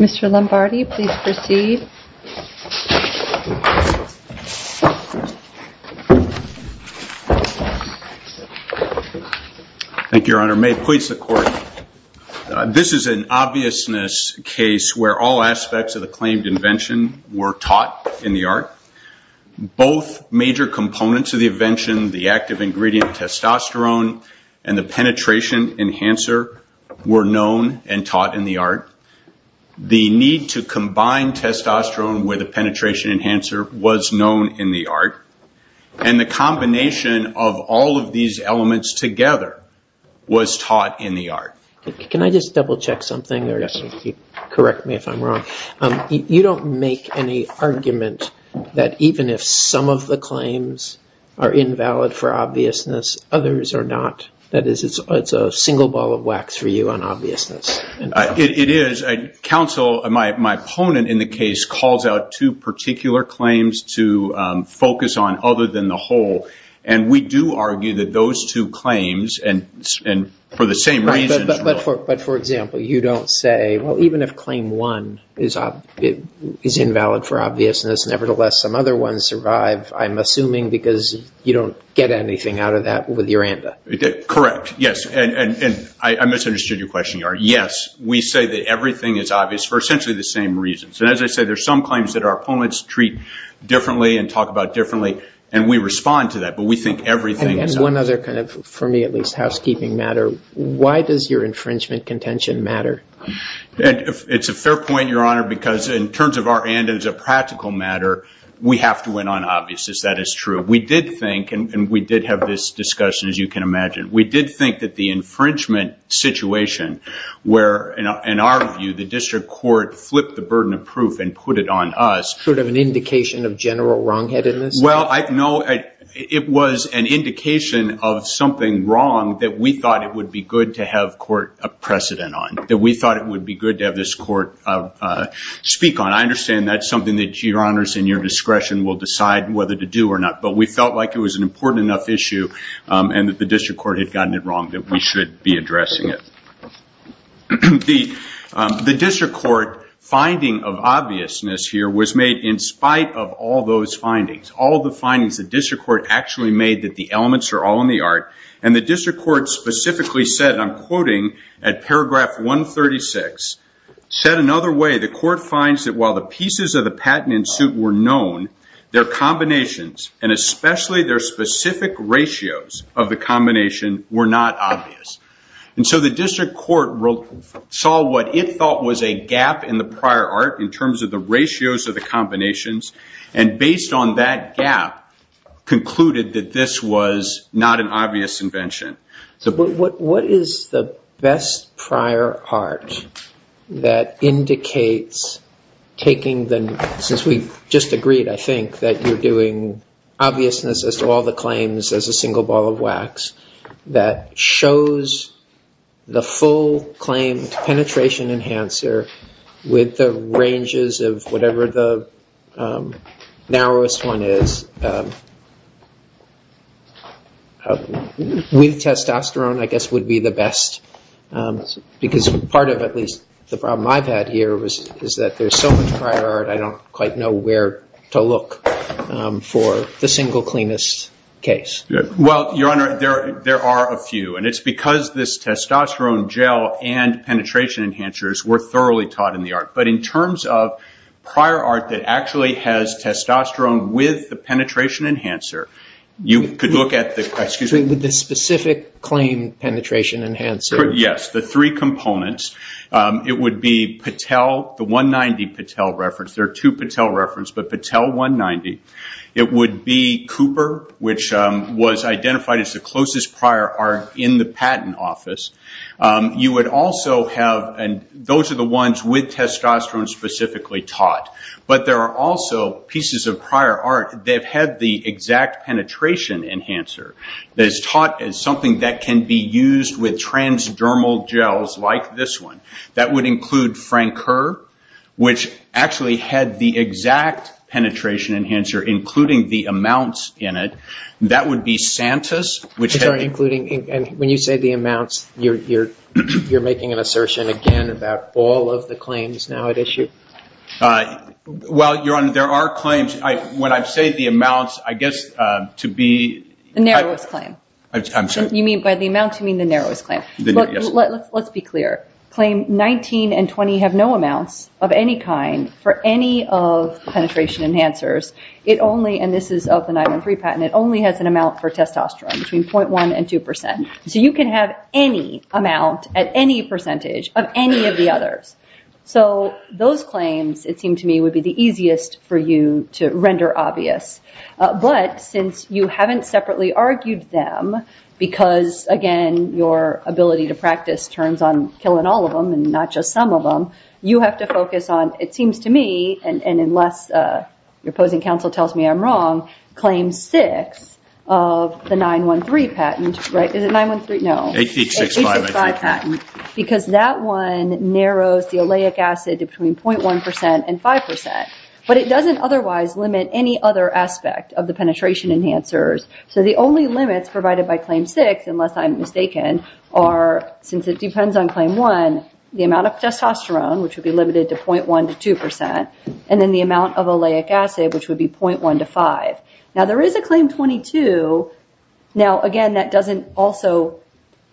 Mr. Lombardi, please proceed. Thank you, Your Honor. May it please the Court, this is an obviousness case where all aspects of the claimed invention were taught in the art. Both major components of the invention, the active ingredient testosterone and the penetration enhancer, were known and taught in the art. The need to combine testosterone with a penetration enhancer was known in the art, and the combination of all of these elements together was taught in the art. Can I just double-check something, or correct me if I'm wrong? You don't make any argument that even if some of the claims are invalid for obviousness, others are not. That is, it's a single ball of wax for you on obviousness. It is. Counsel, my opponent in the case, calls out two particular claims to focus on other than the whole, and we do argue that those two claims, and for the same reasons... But for example, you don't say, well, even if claim one is invalid for obviousness, nevertheless, some other ones survive, I'm assuming because you don't get anything out of that with your ANDA. Correct. Yes. I misunderstood your question, Your Honor. Yes, we say that everything is obvious for essentially the same reasons. As I said, there's some claims that our opponents treat differently and talk about differently, and we respond to that, but we think everything is obvious. One other kind of, for me at least, housekeeping matter. Why does your infringement contention matter? It's a fair point, Your Honor, because in terms of our ANDA, as a practical matter, we have to win on obviousness. That is true. We did think, and we did have this discussion, as you can imagine. We did think that the infringement situation where, in our view, the district court flipped the burden of proof and put it on us... Sort of an indication of general wrongheadedness? Well, no, it was an indication of something wrong that we thought it would be good to have court precedent on, that we thought it would be good to have this court speak on. I understand that's something that, Your Honors, in your discretion will decide whether to do or not, but we felt like it was an important enough issue, and that the district court had gotten it wrong, that we should be addressing it. The district court finding of obviousness here was made in spite of all those findings. All the findings the district court actually made that the elements are all in the art, and the district court specifically said, and I'm quoting at paragraph 136, said another way, the court finds that while the pieces of the patent in suit were known, their combinations, and especially their specific ratios of the combination, were not obvious. The district court saw what it thought was a gap in the prior art, in terms of the ratios of the combinations, and based on that gap, concluded that this was not an obvious invention. What is the best prior art that indicates taking the... Since we just agreed, I think, that you're doing obviousness as to all the claims as a single ball of wax, that shows the full claimed penetration enhancer with the ranges of whatever the narrowest one is, with testosterone, I guess, would be the best. Because part of, at least, the problem I've had here is that there's so much prior art, I don't quite know where to look for the single cleanest case. Well, your honor, there are a few, and it's because this testosterone gel and penetration enhancers were thoroughly taught in the art, but in terms of prior art that actually has testosterone with the penetration enhancer, you could look at the... With the specific claim penetration enhancer. Yes, the three components. It would be Patel, the 190 Patel reference, there are two Patel reference, but Patel 190. It would be Cooper, which was identified as the closest prior art in the patent office. You would also have... Those are the ones with testosterone specifically taught, but there are also pieces of prior art that have had the exact penetration enhancer, that is taught as something that can be used with transdermal gels, like this one. That would include Frank Kerr, which actually had the exact penetration enhancer, including the amounts in it. That would be Santus, which had... Sorry, including... When you say the amounts, you're making an assertion, again, about all of the claims now at issue? Well, your honor, there are claims. When I say the amounts, I guess, to be... The narrowest claim. I'm sorry. You mean by the amounts, you mean the narrowest claim? The narrowest. Let's be clear. Claim 19 and 20 have no amounts of any kind for any of the penetration enhancers. It only, and this is of the 913 patent, it only has an amount for testosterone, between 0.1 and 2%. You can have any amount at any percentage of any of the others. Those claims, it seemed to me, would be the easiest for you to render obvious, but since you haven't separately argued them, because, again, your ability to practice turns on killing all of them and not just some of them, you have to focus on, it seems to me, and unless your opposing counsel tells me I'm wrong, claim six of the 913 patent, right? Is it 913? No. 1865. 1865 patent, because that one narrows the oleic acid between 0.1% and 5%, but it doesn't otherwise limit any other aspect of the penetration enhancers, so the only limits provided by claim six, unless I'm mistaken, are, since it depends on claim one, the amount of testosterone, which would be limited to 0.1% to 2%, and then the amount of oleic acid, which would be 0.1% to 5%. Now there is a claim 22, now, again, that doesn't also,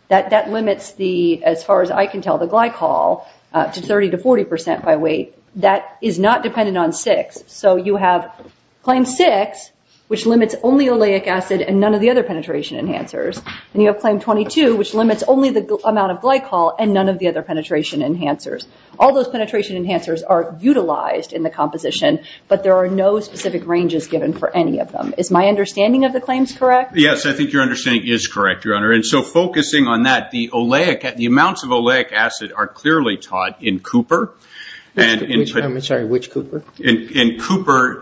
that limits the, as far as I can tell, the glycol to 30% to 40% by weight. That is not dependent on six, so you have claim six, which limits only oleic acid and none of the other penetration enhancers, and you have claim 22, which limits only the amount of glycol and none of the other penetration enhancers. All those penetration enhancers are utilized in the composition, but there are no specific ranges given for any of them. Is my understanding of the claims correct? Yes, I think your understanding is correct, Your Honor, and so focusing on that, the amounts of oleic acid are clearly taught in Cooper, and in Cooper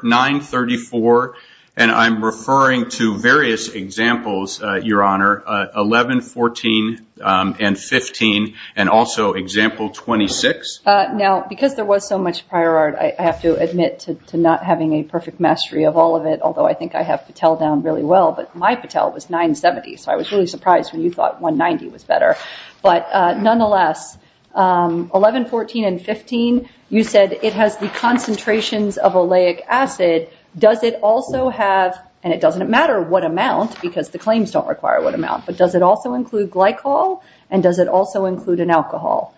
934, and I'm referring to various examples, Your Honor, 11, 14, and 15, and also example 26. Now, because there was so much prior art, I have to admit to not having a perfect mastery of all of it, although I think I have Patel down really well, but my Patel was 970, so I was really surprised when you thought 190 was better, but nonetheless, 11, 14, and 15, you said it has the concentrations of oleic acid. Does it also have, and it doesn't matter what amount because the claims don't require what amount, but does it also include glycol, and does it also include an alcohol?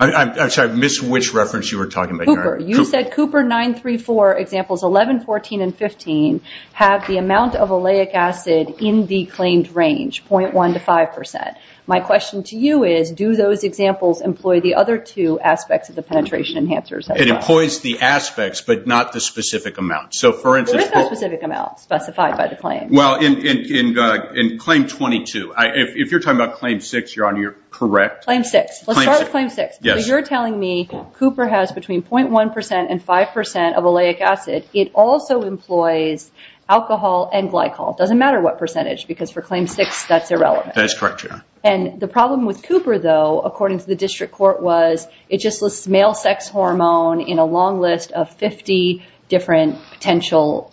I'm sorry, I missed which reference you were talking about, Your Honor. Cooper. You said Cooper 934 examples 11, 14, and 15 have the amount of oleic acid in the claimed range, 0.1 to 5%. My question to you is, do those examples employ the other two aspects of the penetration enhancers as well? It employs the aspects, but not the specific amount. So for instance, Cooper. There is no specific amount specified by the claim. Well, in claim 22, if you're talking about claim 6, Your Honor, you're correct. Claim 6. Let's start with claim 6. Yes. You're telling me Cooper has between 0.1% and 5% of oleic acid. It also employs alcohol and glycol. It doesn't matter what percentage because for claim 6, that's irrelevant. That's correct, Your Honor. And the problem with Cooper though, according to the district court, was it just lists male sex hormone in a long list of 50 different potential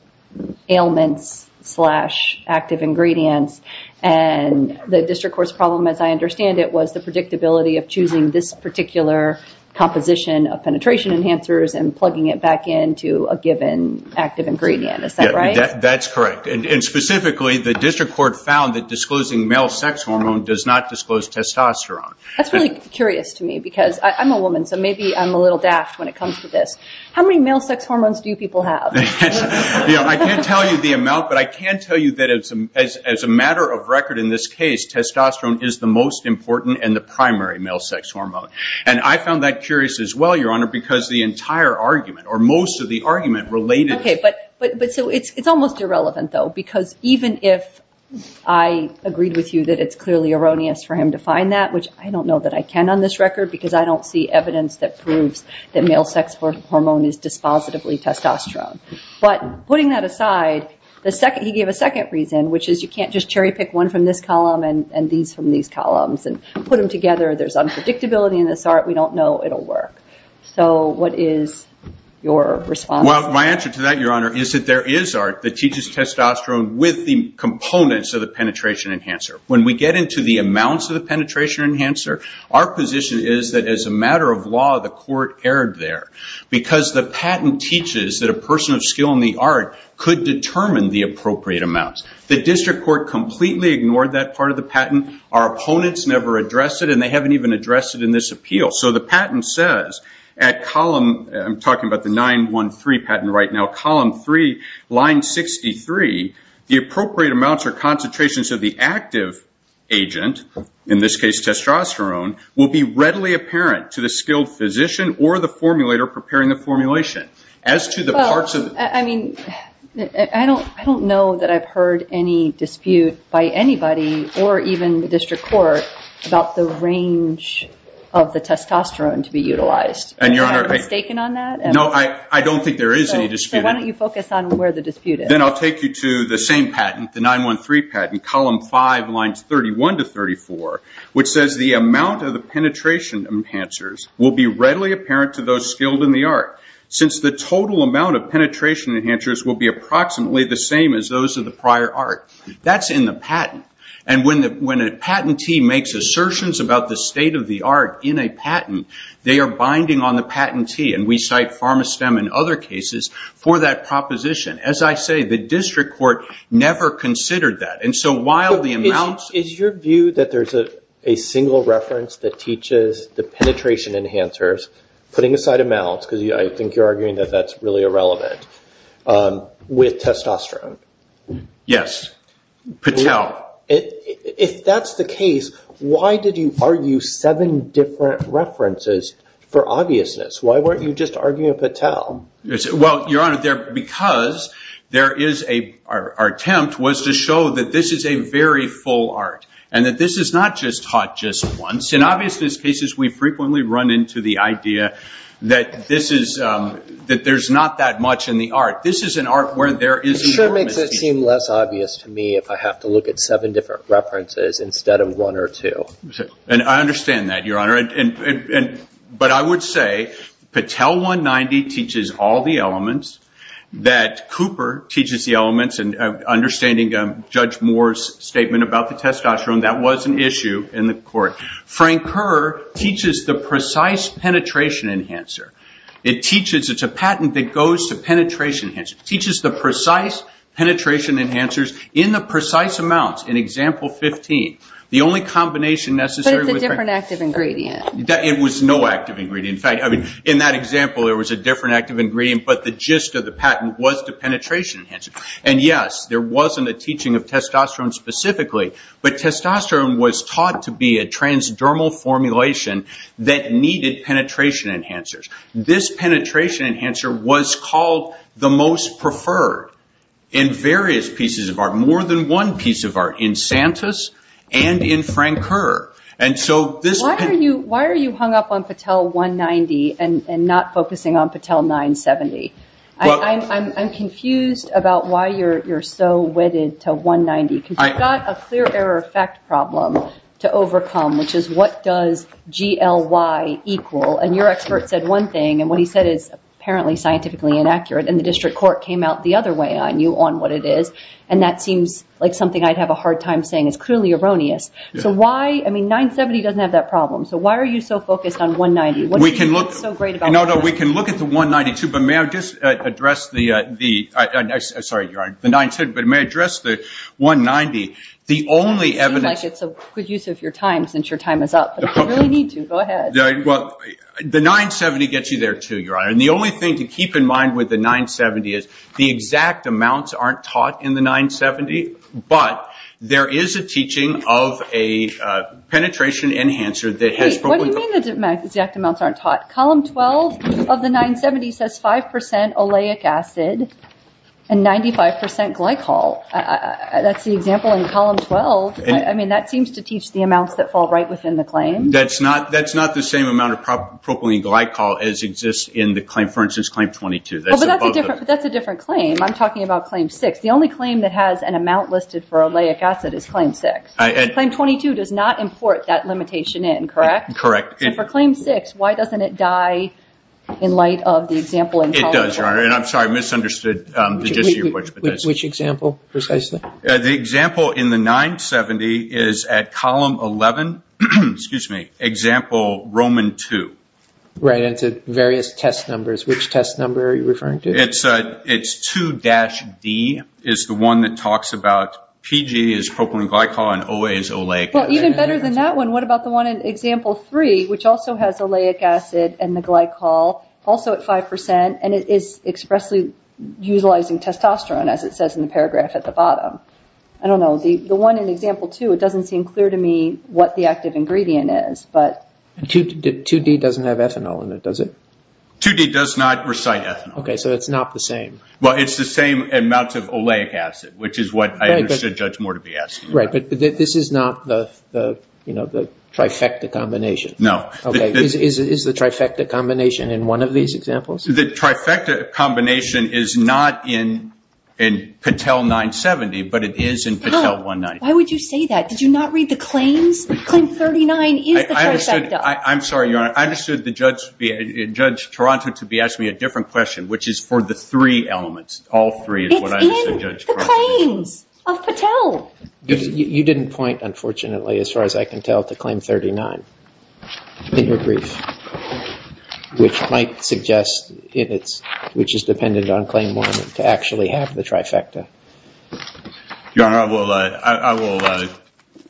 ailments slash active ingredients. And the district court's problem, as I understand it, was the predictability of choosing this particular composition of penetration enhancers and plugging it back into a given active ingredient. Is that right? That's correct. And specifically, the district court found that disclosing male sex hormone does not disclose testosterone. That's really curious to me because I'm a woman, so maybe I'm a little daft when it comes to this. How many male sex hormones do people have? I can't tell you the amount, but I can tell you that as a matter of record in this case, testosterone is the most important and the primary male sex hormone. And I found that curious as well, Your Honor, because the entire argument, or most of the argument related to- It's almost irrelevant, though, because even if I agreed with you that it's clearly erroneous for him to find that, which I don't know that I can on this record because I don't see evidence that proves that male sex hormone is dispositively testosterone. But putting that aside, he gave a second reason, which is you can't just cherry pick one from this column and these from these columns and put them together. There's unpredictability in this art. We don't know it'll work. So what is your response? My answer to that, Your Honor, is that there is art that teaches testosterone with the components of the penetration enhancer. When we get into the amounts of the penetration enhancer, our position is that as a matter of law, the court erred there because the patent teaches that a person of skill in the art could determine the appropriate amounts. The district court completely ignored that part of the patent. Our opponents never addressed it, and they haven't even addressed it in this appeal. So the patent says, at column, I'm talking about the 913 patent right now, column 3, line 63, the appropriate amounts or concentrations of the active agent, in this case testosterone, will be readily apparent to the skilled physician or the formulator preparing the formulation. As to the parts of the... Well, I mean, I don't know that I've heard any dispute by anybody or even the district court about the range of the testosterone to be utilized. And Your Honor... Am I mistaken on that? No, I don't think there is any dispute. So why don't you focus on where the dispute is? Then I'll take you to the same patent, the 913 patent, column 5, lines 31 to 34, which says the amount of the penetration enhancers will be readily apparent to those skilled in the art, since the total amount of penetration enhancers will be approximately the same as those of the prior art. That's in the patent. And when a patentee makes assertions about the state of the art in a patent, they are binding on the patentee, and we cite PharmaSTEM in other cases for that proposition. As I say, the district court never considered that. And so while the amounts... Is your view that there's a single reference that teaches the penetration enhancers, putting aside amounts, because I think you're arguing that that's really irrelevant, with testosterone? Yes. Patel. Now, if that's the case, why did you argue seven different references for obviousness? Why weren't you just arguing Patel? Well, Your Honor, because our attempt was to show that this is a very full art, and that this is not just taught just once. In obviousness cases, we frequently run into the idea that there's not that much in the art. This is an art where there is enormous... That makes it seem less obvious to me if I have to look at seven different references instead of one or two. And I understand that, Your Honor. But I would say Patel 190 teaches all the elements, that Cooper teaches the elements, and understanding Judge Moore's statement about the testosterone, that was an issue in the court. Frank Kerr teaches the precise penetration enhancer. It teaches... It's a patent that goes to penetration enhancer. It teaches the precise penetration enhancers in the precise amounts, in example 15. The only combination necessary... But it's a different active ingredient. It was no active ingredient. In fact, in that example, there was a different active ingredient, but the gist of the patent was the penetration enhancer. And yes, there wasn't a teaching of testosterone specifically, but testosterone was taught to be a transdermal formulation that needed penetration enhancers. This penetration enhancer was called the most preferred in various pieces of art, more than one piece of art, in Santus and in Frank Kerr. And so this... Why are you hung up on Patel 190 and not focusing on Patel 970? I'm confused about why you're so wedded to 190, because you've got a clear error effect problem to overcome, which is what does GLY equal? And your expert said one thing, and what he said is apparently scientifically inaccurate, and the district court came out the other way on you on what it is. And that seems like something I'd have a hard time saying. It's clearly erroneous. So why... I mean, 970 doesn't have that problem. So why are you so focused on 190? What do you think is so great about this? We can look... No, no. We can look at the 192, but may I just address the... I'm sorry. You're right. The 970. But may I address the 190? The only evidence... It seems like it's a good use of your time, since your time is up, but if you really need to, go ahead. Well, the 970 gets you there, too, Your Honor. And the only thing to keep in mind with the 970 is the exact amounts aren't taught in the 970, but there is a teaching of a penetration enhancer that has probably... Wait. What do you mean the exact amounts aren't taught? Column 12 of the 970 says 5% oleic acid and 95% glycol. That's the example in column 12. I mean, that seems to teach the amounts that fall right within the claim. That's not the same amount of propylene glycol as exists in the claim. For instance, claim 22. That's in both of them. But that's a different claim. I'm talking about claim 6. The only claim that has an amount listed for oleic acid is claim 6. Claim 22 does not import that limitation in, correct? Correct. And for claim 6, why doesn't it die in light of the example in column 12? It does, Your Honor. And I'm sorry, I misunderstood the gist of your question. Which example, precisely? The example in the 970 is at column 11, excuse me, example Roman 2. Right, and it's at various test numbers. Which test number are you referring to? It's 2-D is the one that talks about PG is propylene glycol and OA is oleic. Well, even better than that one, what about the one in example 3, which also has oleic acid and the glycol, also at 5% and it is expressly utilizing testosterone, as it says in the paragraph at the bottom? I don't know. The one in example 2, it doesn't seem clear to me what the active ingredient is, but... 2-D doesn't have ethanol in it, does it? 2-D does not recite ethanol. Okay, so it's not the same. Well, it's the same amounts of oleic acid, which is what I understood Judge Moore to be asking about. Right, but this is not the trifecta combination. No. Okay, is the trifecta combination in one of these examples? The trifecta combination is not in Patel 970, but it is in Patel 190. Why would you say that? Did you not read the claims? Claim 39 is the trifecta. I'm sorry, Your Honor. I understood Judge Toronto to be asking me a different question, which is for the three elements. All three is what I understood Judge Toronto to be. It's in the claims of Patel. You didn't point, unfortunately, as far as I can tell, to claim 39 in your brief, which might suggest it is dependent on claim 1 to actually have the trifecta. Your Honor,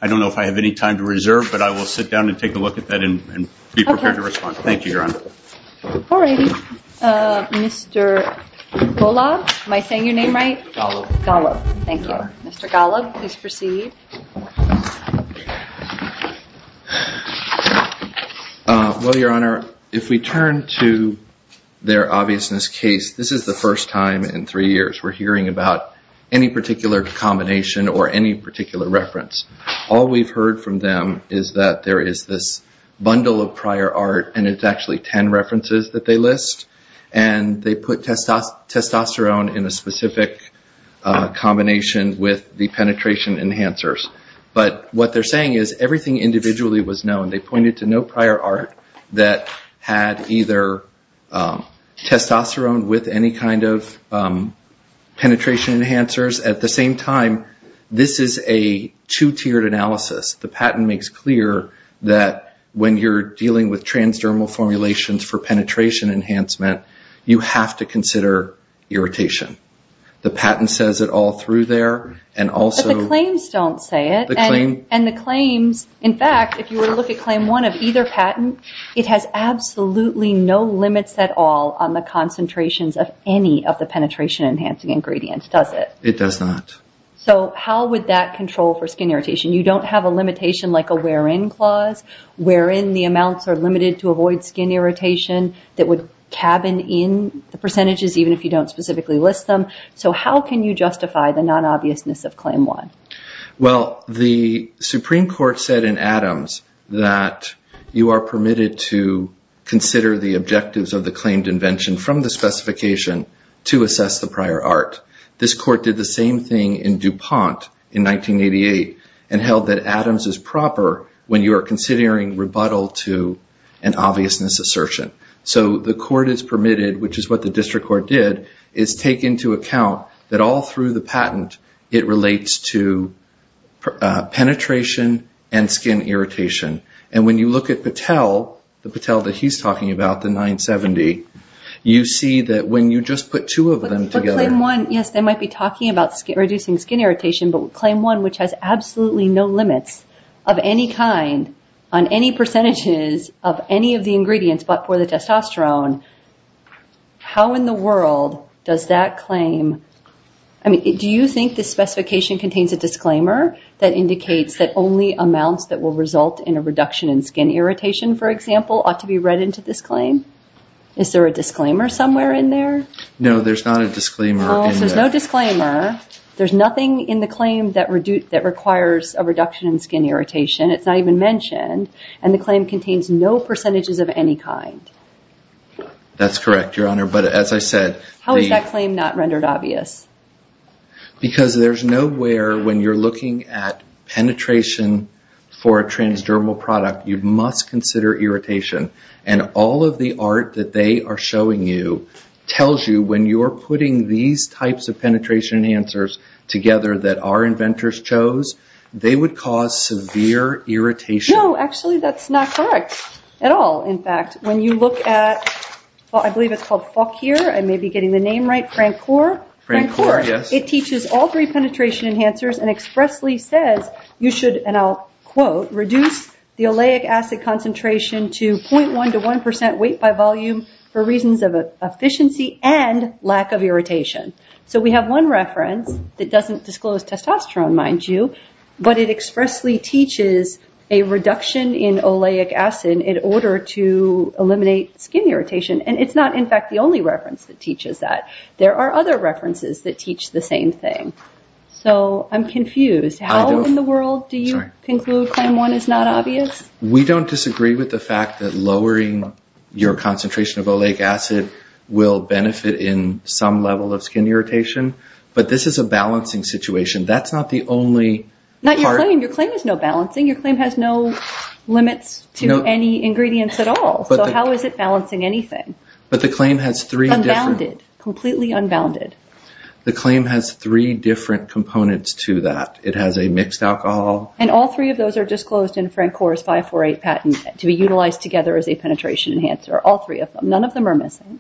I don't know if I have any time to reserve, but I will sit down and take a look at that and be prepared to respond. Thank you, Your Honor. All right. Mr. Golub, am I saying your name right? Golub. Golub, thank you. Mr. Golub, please proceed. Well, Your Honor, if we turn to their obviousness case, this is the first time in three years we're hearing about any particular combination or any particular reference. All we've heard from them is that there is this bundle of prior art, and it's actually 10 references that they list, and they put testosterone in a specific combination with the penetration enhancers. But what they're saying is everything individually was known. They pointed to no prior art that had either testosterone with any kind of penetration enhancers. At the same time, this is a two-tiered analysis. The patent makes clear that when you're dealing with transdermal formulations for penetration enhancement, you have to consider irritation. The patent says it all through there. But the claims don't say it. And the claims, in fact, if you were to look at claim one of either patent, it has absolutely no limits at all on the concentrations of any of the penetration enhancing ingredients, does it? It does not. So how would that control for skin irritation? You don't have a limitation like a wear-in clause wherein the amounts are limited to So how can you justify the non-obviousness of claim one? Well, the Supreme Court said in Adams that you are permitted to consider the objectives of the claimed invention from the specification to assess the prior art. This court did the same thing in DuPont in 1988 and held that Adams is proper when you are considering rebuttal to an obviousness assertion. So the court is permitted, which is what the district court did, is take into account that all through the patent, it relates to penetration and skin irritation. And when you look at Patel, the Patel that he's talking about, the 970, you see that when you just put two of them together... But claim one, yes, they might be talking about reducing skin irritation, but claim one which has absolutely no limits of any kind on any percentages of any of the ingredients but for the testosterone. How in the world does that claim... Do you think the specification contains a disclaimer that indicates that only amounts that will result in a reduction in skin irritation, for example, ought to be read into this claim? Is there a disclaimer somewhere in there? No, there's not a disclaimer in there. There's no disclaimer. There's nothing in the claim that requires a reduction in skin irritation. It's not even mentioned. And the claim contains no percentages of any kind. That's correct, Your Honor. But as I said... How is that claim not rendered obvious? Because there's nowhere when you're looking at penetration for a transdermal product, you must consider irritation. And all of the art that they are showing you tells you when you're putting these types of penetration enhancers together that our inventors chose, they would cause severe irritation. No, actually that's not correct at all. In fact, when you look at... I believe it's called Fokir. I may be getting the name right. Francor? Francor, yes. It teaches all three penetration enhancers and expressly says you should, and I'll quote, reduce the oleic acid concentration to 0.1 to 1% weight by volume for reasons of efficiency and lack of irritation. So we have one reference that doesn't disclose testosterone, mind you, but it expressly teaches a reduction in oleic acid in order to eliminate skin irritation. And it's not, in fact, the only reference that teaches that. There are other references that teach the same thing. So I'm confused. How in the world do you conclude 0.1 is not obvious? We don't disagree with the fact that lowering your concentration of oleic acid will benefit in some level of skin irritation. But this is a balancing situation. That's not the only... Not your claim. Your claim is no balancing. Your claim has no limits to any ingredients at all. So how is it balancing anything? But the claim has three different... Unbounded. Completely unbounded. The claim has three different components to that. It has a mixed alcohol. And all three of those are disclosed in Francor's 548 patent to be utilized together as a penetration enhancer. All three of them. None of them are missing.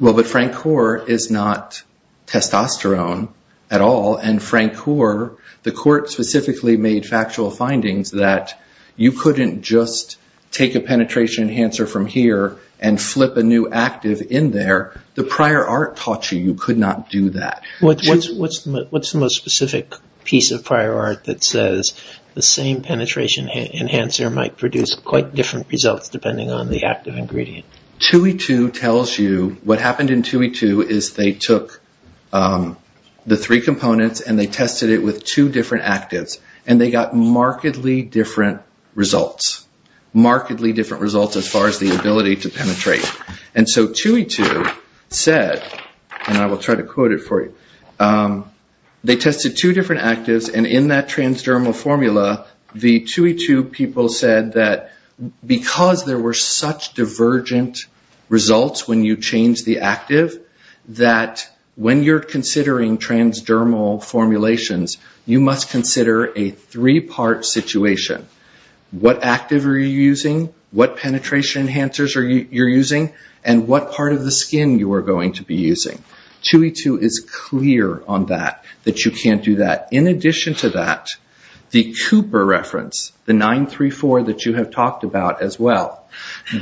Well, but Francor is not testosterone at all. And Francor, the court specifically made factual findings that you couldn't just take a penetration enhancer from here and flip a new active in there. The prior art taught you you could not do that. What's the most specific piece of prior art that says the same penetration enhancer might produce quite different results depending on the active ingredient? 2E2 tells you what happened in 2E2 is they took the three components and they tested it with two different actives. And they got markedly different results. Markedly different results as far as the ability to penetrate. And so 2E2 said, and I will try to quote it for you, they tested two different actives and in that transdermal formula, the 2E2 people said that because there were such divergent results when you change the active, that when you're considering transdermal formulations, you must consider a three-part situation. What active are you using? What penetration enhancers are you using? And what part of the skin you are going to be using? 2E2 is clear on that. That you can't do that. In addition to that, the Cooper reference, the 934 that you have talked about as well,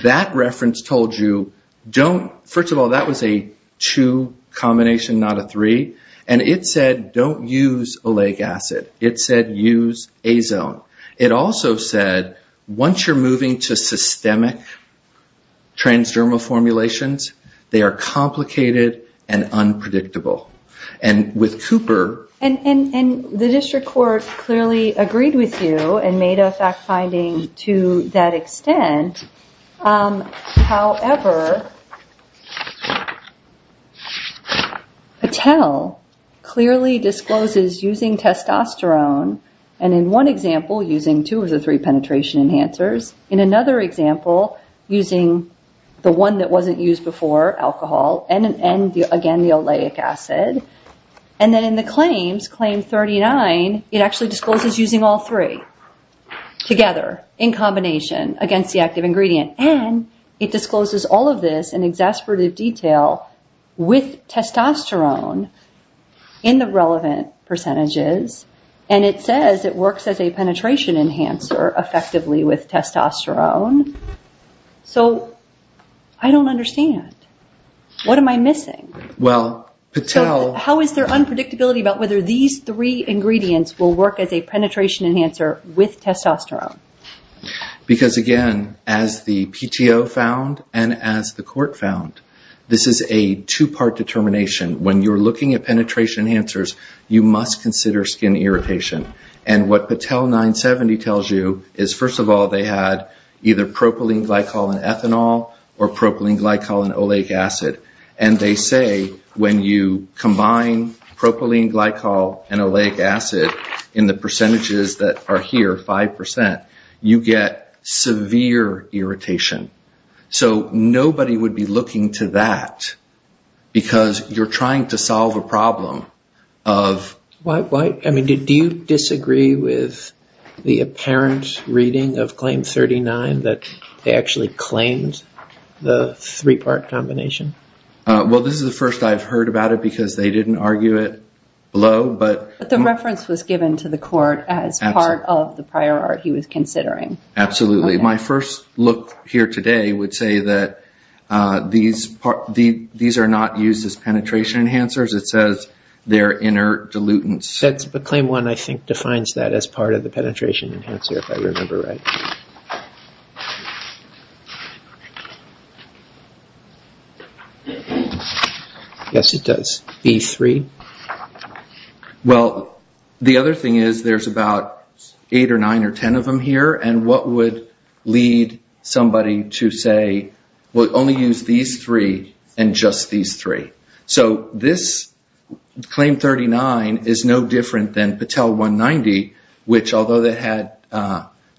that reference told you don't, first of all, that was a two combination, not a three. And it said don't use oleic acid. It said use azone. It also said once you're moving to systemic transdermal formulations, they are complicated and unpredictable. And with Cooper... And the district court clearly agreed with you and made a fact finding to that extent. However, Patel clearly discloses using testosterone and in one example using two of the three penetration enhancers, in another example using the one that wasn't used before, alcohol, and again the oleic acid. And then in the claims, claim 39, it actually discloses using all three together in combination against the active ingredient. And it discloses all of this in exasperated detail with testosterone in the relevant percentages. And it says it works as a penetration enhancer effectively with testosterone. So, I don't understand. What am I missing? Well, Patel... How is there unpredictability about whether these three ingredients will work as a penetration enhancer with testosterone? Because again, as the PTO found and as the court found, this is a two-part determination. When you're looking at penetration enhancers, you must consider skin irritation. And what Patel 970 tells you is, first of all, they had either propylene glycol and ethanol or propylene glycol and oleic acid. And they say when you combine propylene glycol and oleic acid in the percentages that are here, 5%, you get severe irritation. So nobody would be looking to that because you're trying to solve a problem of... Do you disagree with the apparent reading of Claim 39 that they actually claimed the three-part combination? Well, this is the first I've heard about it because they didn't argue it below, but... The reference was given to the court as part of the prior art he was considering. Absolutely. My first look here today would say that these are not used as penetration enhancers. It says they're inner dilutants. That's... But Claim 1, I think, defines that as part of the penetration enhancer, if I remember right. Yes, it does. B3? Well, the other thing is there's about 8 or 9 or 10 of them here, and what would lead somebody to say, well, only use these three and just these three. So this Claim 39 is no different than Patel 190, which although it had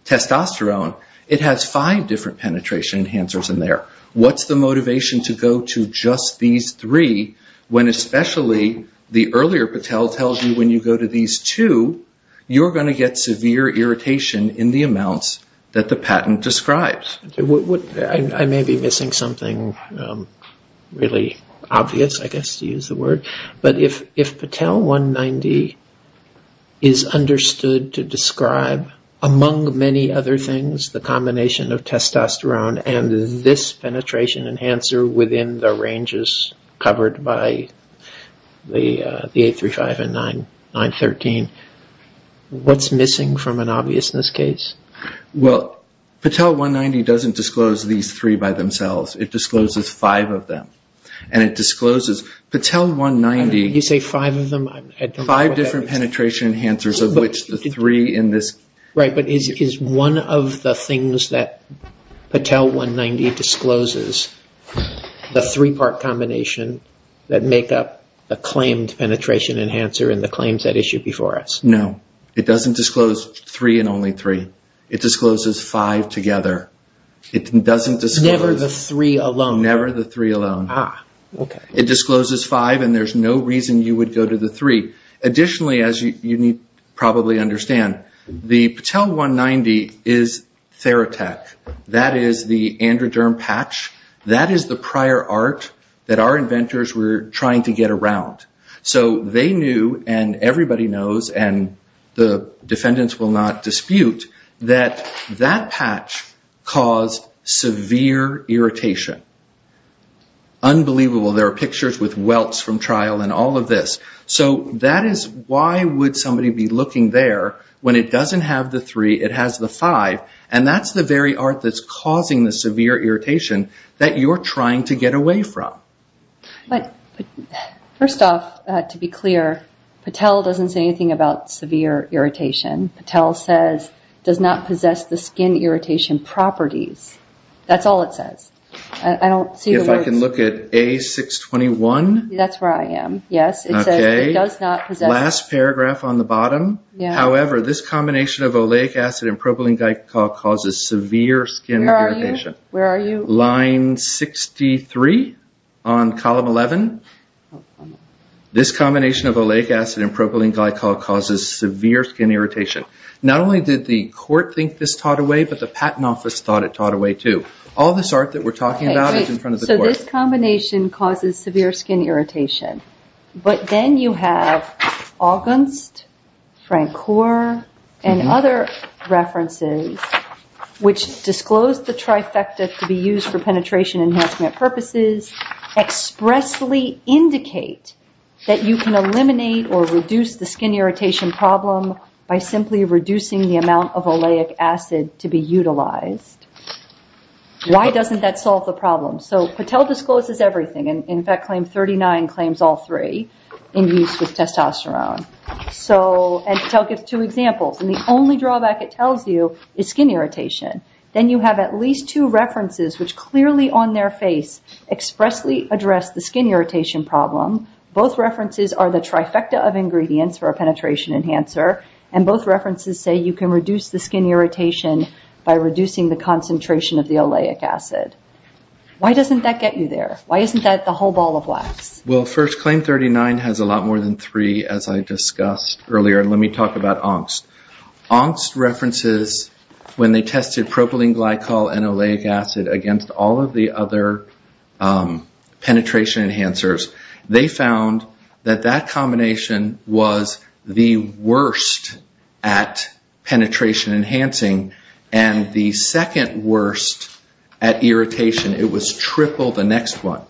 testosterone, it has five different penetration enhancers in there. What's the motivation to go to just these three when especially the earlier Patel tells you when you go to these two, you're going to get severe irritation in the amounts that the patent describes? I may be missing something really obvious, I guess, to use the word. But if Patel 190 is understood to describe, among many other things, the combination of testosterone and this penetration enhancer within the ranges covered by the 835 and 913, what's missing from an obviousness case? Well, Patel 190 doesn't disclose these three by themselves. It discloses five of them. And it discloses Patel 190... You say five of them? Five different penetration enhancers of which the three in this... Right, but is one of the things that Patel 190 discloses the three-part combination that make up a claimed penetration enhancer in the claims that issue before us? No. It doesn't disclose three and only three. It discloses five together. It doesn't disclose... Never the three alone? Never the three alone. Ah, okay. It discloses five and there's no reason you would go to the three. Additionally, as you probably understand, the Patel 190 is Theratech. That is the androderm patch. That is the prior art that our inventors were trying to get around. So they knew, and everybody knows, and the defendants will not dispute, that that patch caused severe irritation. Unbelievable. There are pictures with welts from trial and all of this. So that is why would somebody be looking there when it doesn't have the three, it has the five, and that's the very art that's causing the severe irritation that you're trying to get away from. But first off, to be clear, Patel doesn't say anything about severe irritation. Patel says, does not possess the skin irritation properties. That's all it says. I don't see the words. If I can look at A621. That's where I am. Yes, it says it does not possess... Last paragraph on the bottom. However, this combination of oleic acid and propylene glycol causes severe skin irritation. Where are you? Line 63. On column 11. This combination of oleic acid and propylene glycol causes severe skin irritation. Not only did the court think this taught away, but the patent office thought it taught away too. All this art that we're talking about is in front of the court. So this combination causes severe skin irritation. But then you have Augunst, Francoeur, and other references which disclose the trifecta to be used for penetration enhancement purposes expressly indicate that you can eliminate or reduce the skin irritation problem by simply reducing the amount of oleic acid to be utilized. Why doesn't that solve the problem? So Patel discloses everything. In fact, claim 39 claims all three in use with testosterone. And Patel gives two examples. And the only drawback it tells you is skin irritation. Then you have at least two references which clearly on their face expressly address the skin irritation problem. Both references are the trifecta of ingredients for a penetration enhancer. And both references say you can reduce the skin irritation by reducing the concentration of the oleic acid. Why doesn't that get you there? Why isn't that the whole ball of wax? Well, first, claim 39 has a lot more than three as I discussed earlier. Let me talk about Augunst. Augunst references when they tested propylene glycol and oleic acid against all of the other penetration enhancers. They found that that combination was the worst at penetration enhancing and the second worst at irritation. It was triple the next one.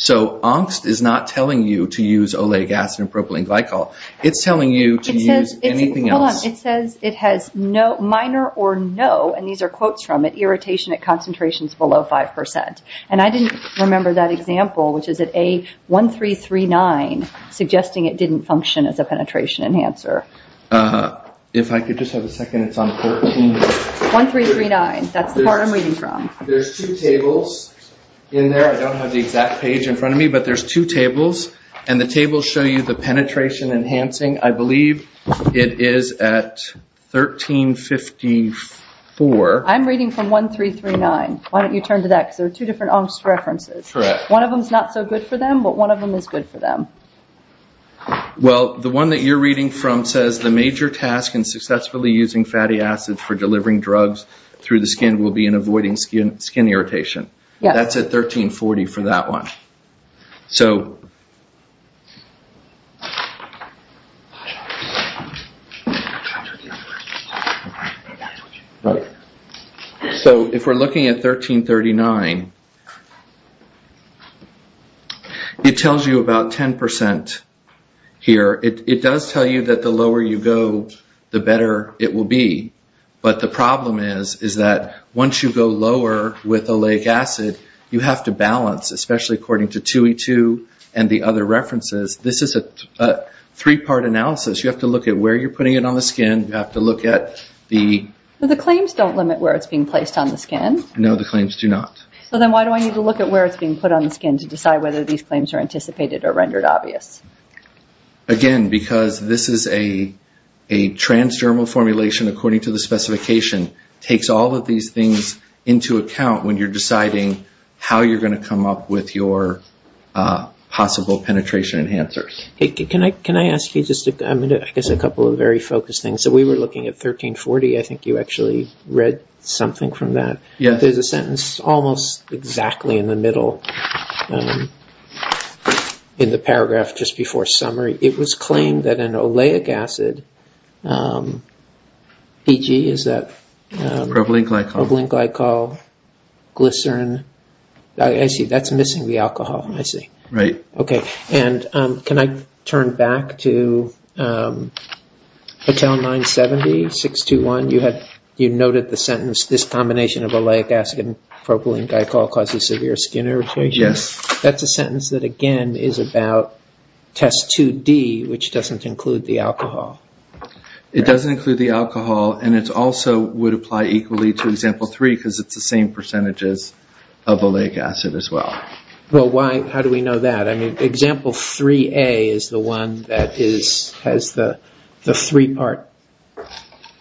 So Augunst is not telling you to use oleic acid and propylene glycol. It's telling you to use anything else. Hold on. It says it has no, minor or no, and these are quotes from it, irritation at concentrations below 5%. And I didn't remember that example which is at A1339 suggesting it didn't function as a penetration enhancer. If I could just have a second. It's on 13. 1339. That's the part I'm reading from. There's two tables in there. I don't have the exact page in front of me. But there's two tables. And the tables show you the penetration enhancing. I believe it is at 1354. I'm reading from 1339. Why don't you turn to that because there are two different Augunst references. Correct. One of them is not so good for them, but one of them is good for them. Well, the one that you're reading from says, the major task in successfully using fatty acids for delivering drugs through the skin will be in avoiding skin irritation. That's at 1340 for that one. So... So if we're looking at 1339, it tells you about 10% here. It does tell you that the lower you go, the better it will be. But the problem is, is that once you go lower with oleic acid, you have to balance, especially according to 2E2 and the other references. This is a three-part analysis. You have to look at where you're putting it on the skin. You have to look at the... The claims don't limit where it's being placed on the skin. No, the claims do not. So then why do I need to look at where it's being put on the skin to decide whether these claims are anticipated or rendered obvious? Again, because this is a transdermal formulation according to the specification. It takes all of these things into account when you're deciding how you're going to come up with your possible penetration enhancers. Can I ask you just a couple of very focused things? So we were looking at 1340. I think you actually read something from that. There's a sentence almost exactly in the middle in the paragraph just before summary. It was claimed that an oleic acid... PG, is that... Propylene glycol. Propylene glycol, glycerin. I see, that's missing the alcohol. I see. Right. Okay. And can I turn back to hotel 970, 621? You noted the sentence, this combination of oleic acid and propylene glycol causes severe skin irritation. Yes. That's a sentence that, again, is about test 2D, which doesn't include the alcohol. It doesn't include the alcohol and it also would apply equally to example 3 because it's the same percentages of oleic acid as well. Well, how do we know that? Example 3A is the one that has the three-part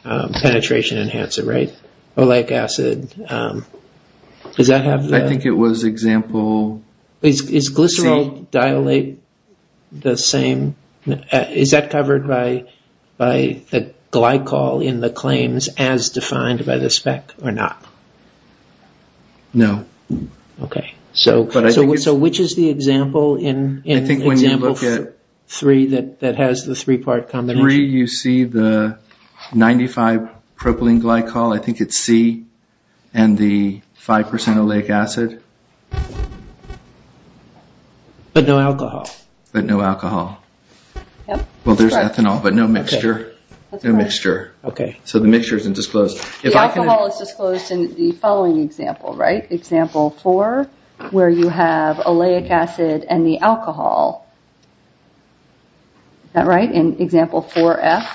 penetration enhancer, right? Oleic acid. Does that have the... I think it was example C. Is glycerol dilate the same? Is that covered by the glycol in the claims as defined by the spec or not? No. Okay. So which is the example in example 3 that has the three-part combination? In 3, you see the 95 propylene glycol. I think it's C and the 5% oleic acid. But no alcohol. But no alcohol. Well, there's ethanol, but no mixture. No mixture. Okay. So the mixture isn't disclosed. The alcohol is disclosed in the following example, right? Example 4, where you have oleic acid and the alcohol. Is that right? In example 4F,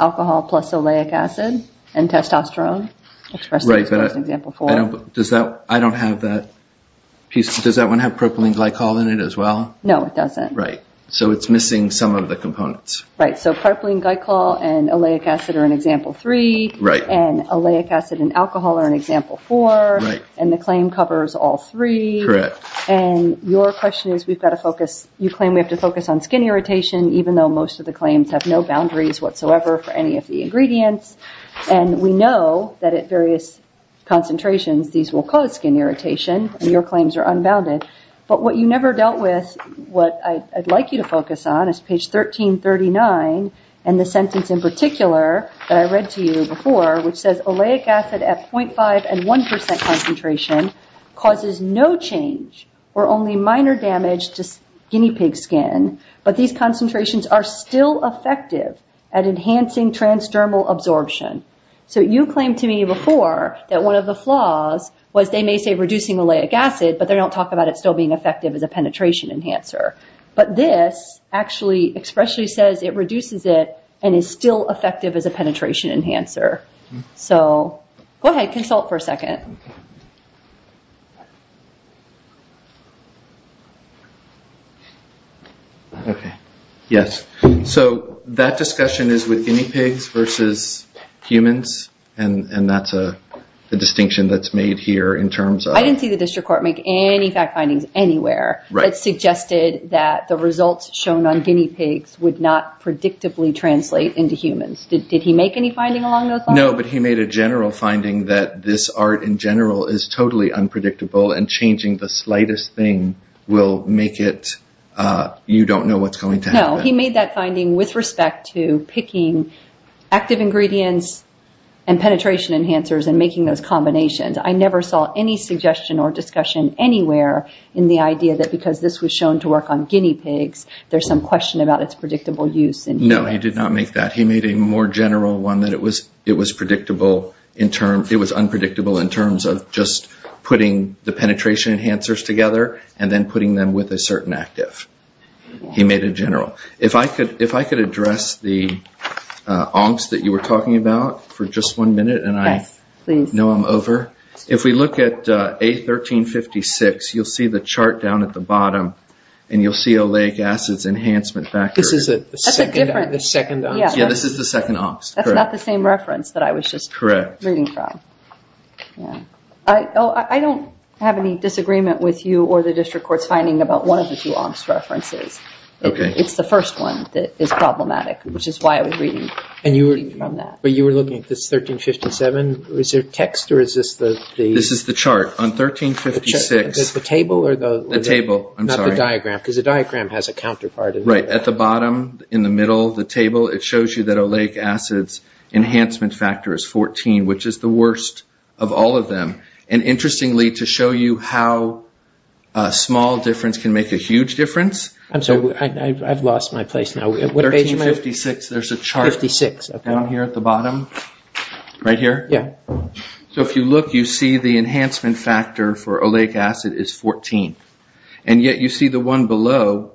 alcohol plus oleic acid and testosterone expressed in example 4. Right. But I don't have that piece. Does that one have propylene glycol in it as well? No, it doesn't. Right. So it's missing some of the components. Right. So propylene glycol and oleic acid are in example 3. Right. And oleic acid and alcohol are in example 4. Right. And the claim covers all three. Correct. And your question is, we've got to focus, you claim we have to focus on skin irritation, even though most of the claims have no boundaries whatsoever for any of the ingredients. And we know that at various concentrations, these will cause skin irritation. And your claims are unbounded. But what you never dealt with, what I'd like you to focus on, is page 1339, and the sentence in particular that I read to you before, which says oleic acid at 0.5 and 1% concentration, causes no change or only minor damage to guinea pig skin, but these concentrations are still effective at enhancing transdermal absorption. So you claimed to me before that one of the flaws was they may say reducing oleic acid, but they don't talk about it still being effective as a penetration enhancer. But this actually expressly says it reduces it and is still effective as a penetration enhancer. So go ahead, consult for a second. Okay. Yes. So that discussion is with guinea pigs versus humans, and that's a distinction that's made here in terms of... I didn't see the district court make any fact findings anywhere that suggested that the results shown on guinea pigs would not predictably translate into humans. Did he make any finding along those lines? No, but he made a general finding that this art in general is totally unpredictable, and changing the slightest thing will make it... you don't know what's going to happen. No, he made that finding with respect to picking active ingredients and penetration enhancers and making those combinations. I never saw any suggestion or discussion anywhere in the idea that because this was shown to work on guinea pigs, there's some question about its predictable use in humans. No, he did not make that. He made a more general one that it was unpredictable in terms of just putting the penetration enhancers together and then putting them with a certain active. He made it general. If I could address the angst that you were talking about for just one minute and I know I'm over. If we look at A1356, you'll see the chart down at the bottom and you'll see oleic acids enhancement factor. This is the second angst? Yeah, this is the second angst. That's not the same reference that I was just reading from. I don't have any disagreement with you or the district court's finding about one of the two angst references. It's the first one that is problematic, which is why I was reading from that. You were looking at this A1357. Is there text or is this the... This is the chart. On A1356... The table or the... The table, I'm sorry. Not the diagram because the diagram has a counterpart. Right. At the bottom, in the middle of the table, it shows you that oleic acids enhancement factor is 14, which is the worst of all of them. Interestingly, to show you how a small difference can make a huge difference... I've lost my place now. What page am I on? A1356. There's a chart. A1356. Down here at the bottom? Right here? Yeah. So if you look, you see the enhancement factor for oleic acid is 14. And yet you see the one below,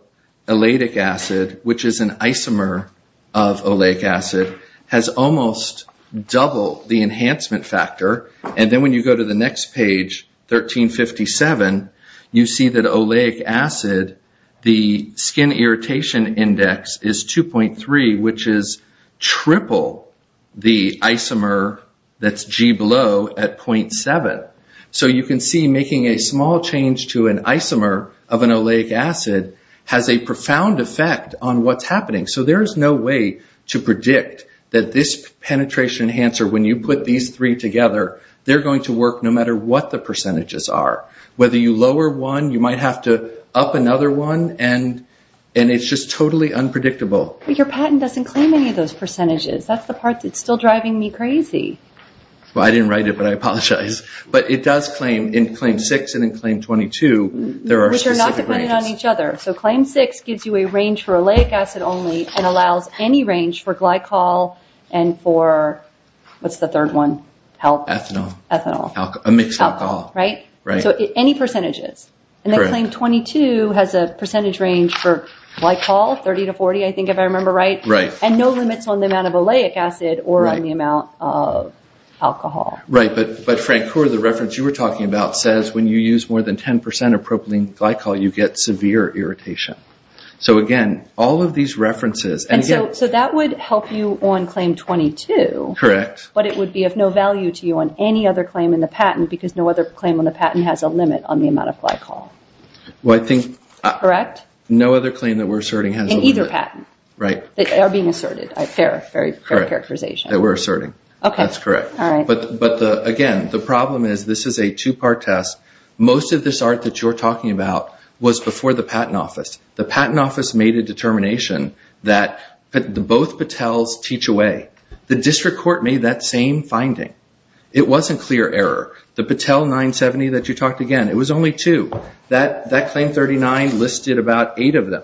oleic acid, which is an isomer of oleic acid, has almost double the enhancement factor. And then when you go to the next page, A1357, you see that oleic acid, the skin irritation index is 2.3, which is triple the isomer that's G below at 0.7. So you can see making a small change to an isomer of an oleic acid has a profound effect on what's happening. So there is no way to predict that this penetration enhancer, when you put these three together, they're going to work no matter what the percentages are. Whether you lower one, you might have to up another one, and it's just totally unpredictable. But your patent doesn't claim any of those percentages. That's the part that's still driving me crazy. Well, I didn't write it, but I apologize. But it does claim, in Claim 6 and in Claim 22, there are specific ranges. Which are not dependent on each other. So Claim 6 gives you a range for oleic acid only and allows any range for glycol and for, what's the third one? Ethanol. Ethanol. A mixed alcohol. Right? So any percentages. Correct. And then Claim 22 has a percentage range for glycol, 30 to 40, I think, if I remember right. Right. And no limits on the amount of oleic acid or on the amount of alcohol. Right. But Frank Kaur, the reference you were talking about, says when you use more than 10% of propylene glycol, you get severe irritation. So again, all of these references... And so that would help you on Claim 22. Correct. But it would be of no value to you on any other claim in the patent because no other claim on the patent has a limit on the amount of glycol. Well, I think... Correct? No other claim that we're asserting has a limit. In either patent. Right. That are being asserted. Fair characterization. That we're asserting. Okay. That's correct. All right. But again, the problem is this is a two-part test. Most of this art that you're talking about was before the Patent Office. The Patent Office made a determination that both Patels teach away. The District Court made that same finding. It wasn't clear error. The Patel 970 that you talked again, it was only two. That Claim 39 listed about eight of them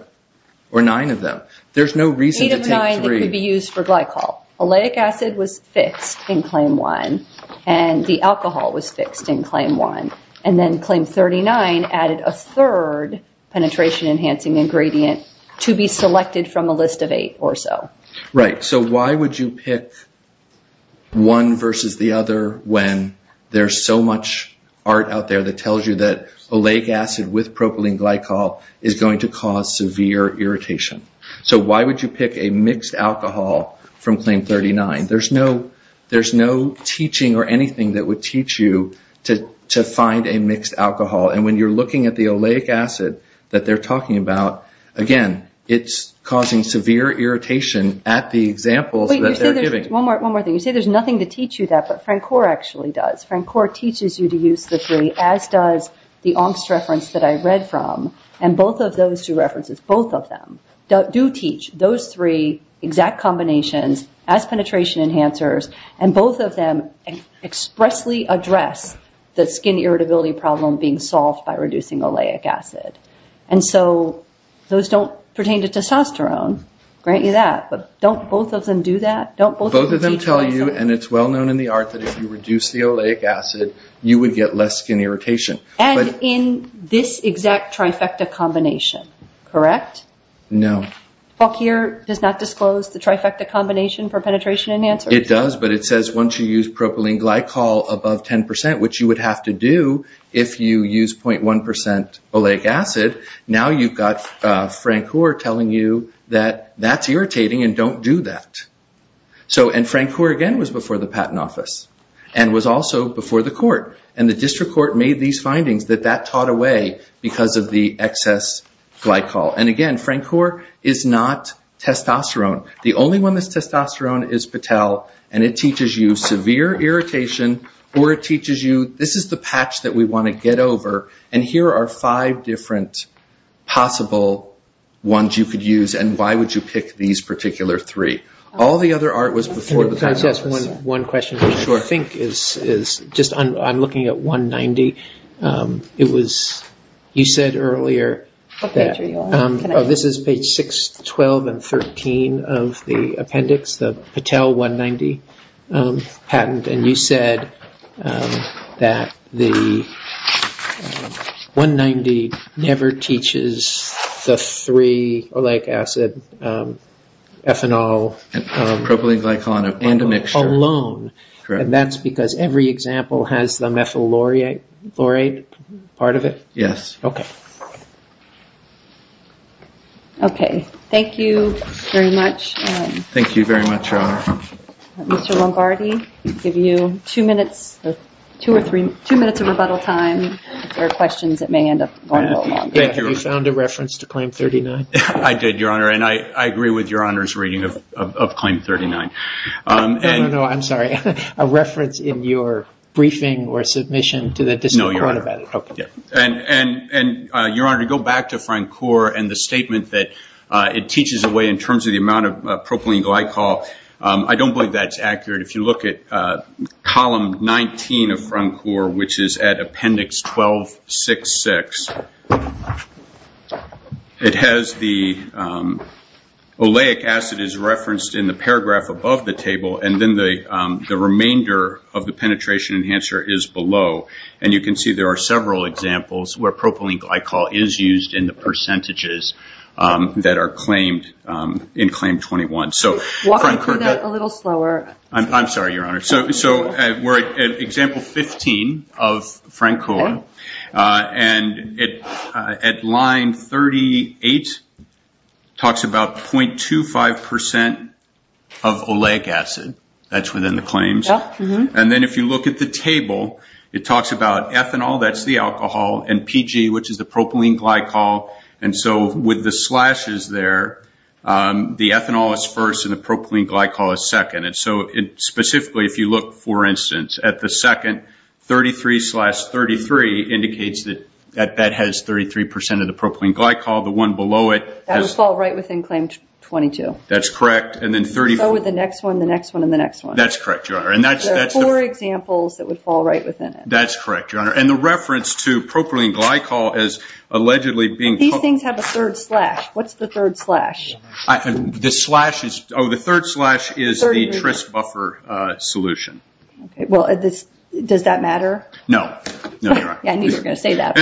or nine of them. There's no reason to take three. Eight of nine that could be used for glycol. Oleic acid was fixed in Claim 1 and the alcohol was fixed in Claim 1 and then Claim 39 added a third penetration enhancing ingredient to be selected from a list of eight or so. Right. So why would you pick one versus the other when there's so much art out there that tells you that oleic acid with propylene glycol is going to cause severe irritation? So why would you pick a mixed alcohol from Claim 39? There's no teaching or anything that would teach you to find a mixed alcohol and when you're looking at the oleic acid that they're talking about, again, it's causing severe irritation at the examples that they're giving. One more thing. You say there's nothing to teach you that but Francor actually does. Francor teaches you to use the three as does the Ongst reference that I read from and both of those two references, both of them, do teach those three exact combinations as penetration enhancers and both of them expressly address the skin irritability problem being solved by reducing oleic acid. And so those don't pertain to testosterone. Grant you that but don't both of them do that? Both of them tell you and it's well known in the art that if you reduce the oleic acid you would get less skin irritation. And in this exact trifecta combination, correct? No. The book here does not disclose the trifecta combination for penetration enhancers? It does but it says once you use propylene glycol above 10% which you would have to do if you use 0.1% oleic acid, now you've got Francor telling you that that's irritating and don't do that. And Francor again was before the patent office and was also before the court and the district court made these findings that that taught away because of the excess glycol. And again, Francor is not testosterone. The only one that's testosterone is Patel and it teaches you severe irritation or it teaches you this is the patch that we want to get over and here are five different possible ones you could use and why would you pick these particular three. All the other art was before the patent office. Can I just ask one question which I think is just I'm looking at 190. It was you said earlier that this is page 612 and 13 of the appendix the Patel 190 patent and you said that the 190 never teaches the three oleic acid ethanol and propylene glycol and a mixture alone and that's because every example has the methyl chloride part of it? Yes. Okay. Okay. Thank you very much. Thank you very much, Your Honor. Mr. Lombardi I'll give you two minutes two or three two minutes of rebuttal time for questions that may end up going a little long. Thank you. You found a reference to claim 39? I did, Your Honor and I agree with Your Honor's reading of claim 39. No, no, no. I'm sorry. A reference in your briefing or submission to the district court about it? No, Your Honor. Okay. Your Honor to go back to Francour and the statement that it teaches away in terms of the amount of propylene glycol I don't believe that's accurate. If you look at column 19 of Francour which is at appendix 1266 it has the oleic acid is referenced in the paragraph above the table and then the remainder of the penetration enhancer is below and you can see there are several examples where propylene glycol is used in the percentages that are claimed in claim 21. Walk me through that a little slower. I'm sorry, Your Honor. So we're at example 15 of Francour and at line 38 it talks about 0.25% of oleic acid that's within the claims and then if you look at the table it talks about ethanol that's the alcohol and PG which is the propylene glycol and so with the slashes there the ethanol is first and the propylene glycol is second and so specifically if you look for instance at the second 33 slash 33 indicates that that has 33% of the propylene glycol the one below it That would fall right within claim 22. That's correct. So would the next one, and the next one. That's correct, Your Honor. There are four examples that would fall right within it. That's correct, Your Honor. And the reference to propylene glycol is allegedly being These things have a third slash. What's the third slash? The third slash is the Trist buffer solution. Does that matter? No. No, Your Honor. I knew you were going to say that.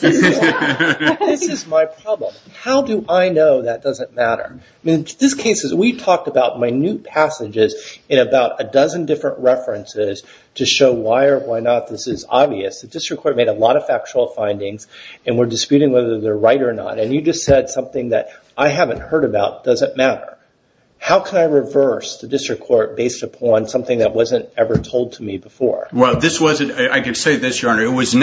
This is my problem. How do I know that doesn't matter? This case we talked about minute references to show why or why not this is obvious. The District Court made a lot of factual findings and we're disputing whether they're right or not. And you just said something that I haven't heard about doesn't matter. How can I reverse the District Court based upon something that wasn't ever told to me before? Well, this wasn't I can say this, Your Honor. What I'm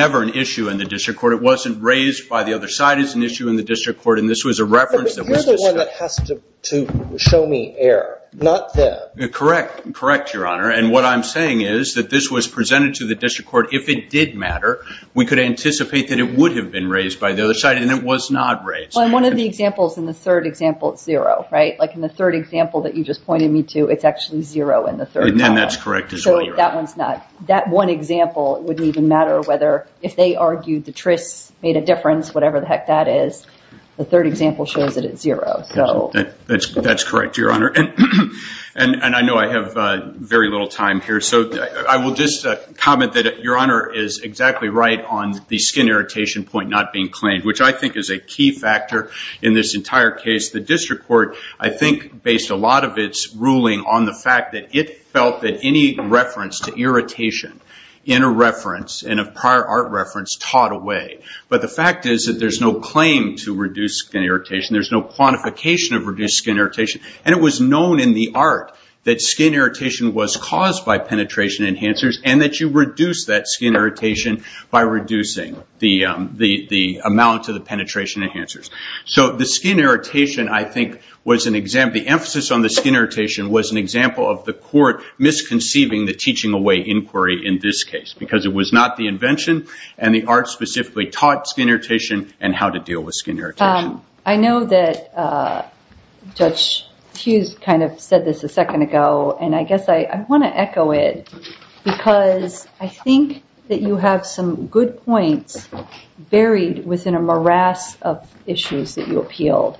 saying is that this was presented to the District Court if it did matter we could anticipate that it would have been raised by the other side and it was not raised. Well, in one of the examples in the third example it's zero, right? Like in the third example that you just pointed me to it's actually zero in the third column. And that's correct as well, Your Honor. I will just comment that Your Honor is exactly right on the skin irritation point not being claimed which I think is a key factor in this entire case. The District Court I think based a lot of its ruling on the fact that it felt that any reference to irritation in a reference in a prior art reference taught away. But the fact is that there's no claim to reduce skin irritation. There's no quantification of reduced skin irritation and it was known in the art that skin irritation was caused by penetration enhancers and that you reduced that skin irritation by reducing the amount of the penetration enhancers. So the skin irritation I think was an example the emphasis on the skin irritation and how to deal with skin irritation. I know that Judge Hughes kind of said this a second ago and I guess I want to echo it because I think that you have some good points buried within a morass of issues that you appealed.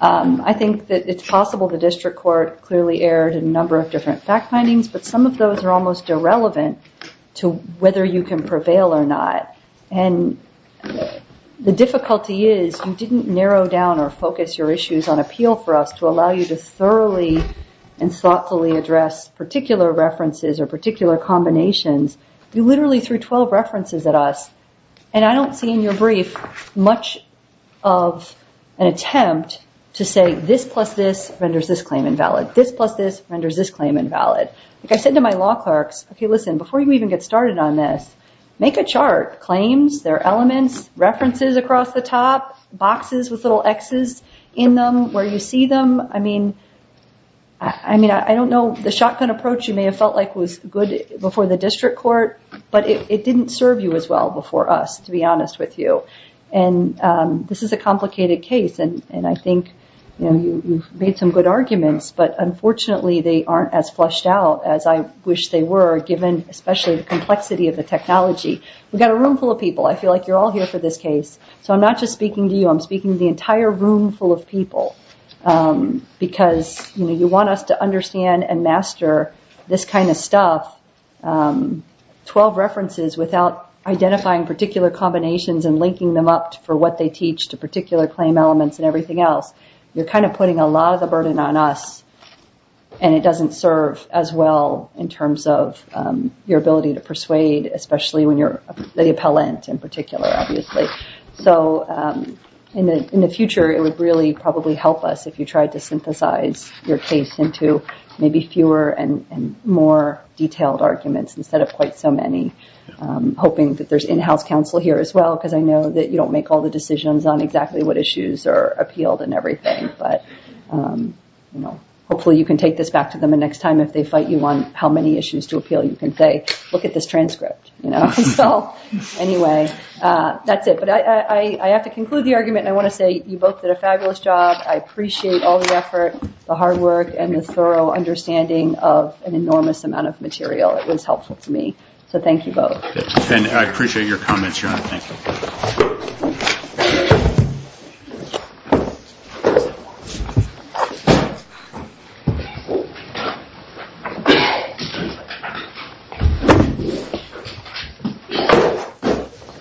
I think that it's possible the District Court clearly aired a number of different fact findings but some of those are almost irrelevant to whether you can prevail or not. And the difficulty is you didn't narrow down or focus your issues on appeal for us to allow you to thoroughly and thoughtfully address particular references or particular combinations. You literally threw 12 references at us and I don't see in your brief much of an attempt to say this plus this renders this claim invalid. I said to my law clerks, before you get started on this, make a chart. Claims, elements, references across the top, boxes with little X's where you see them. I don't know the shotgun approach you may have felt like was good before the District Court but it didn't serve you as well before us to be honest with you. This is a complicated case and I think you've made some good arguments but unfortunately they aren't as flushed out as I wish they were given the complexity of the technology. We've got a room full of people. I feel like you're all here for this case. I'm not just speaking to you. I'm speaking to the entire room full of people because you want us to understand and master this kind of stuff. 12 references without identifying particular combinations and linking them up for what they teach to particular claim elements and everything else. You're putting a lot of the burden on us and it doesn't serve as well in terms of your ability to persuade especially when you're a group of people. I'm hoping that there's in-house counsel here as well. Hopefully you can take this back to them the next time if they fight you on how many issues to appeal you can say look at this transcript. I have to conclude the argument and I want to say you both did a fabulous job. I appreciate all the effort and thorough understanding of an enormous amount of material. It was helpful to me. Thank you both. I appreciate your comments. Thank you.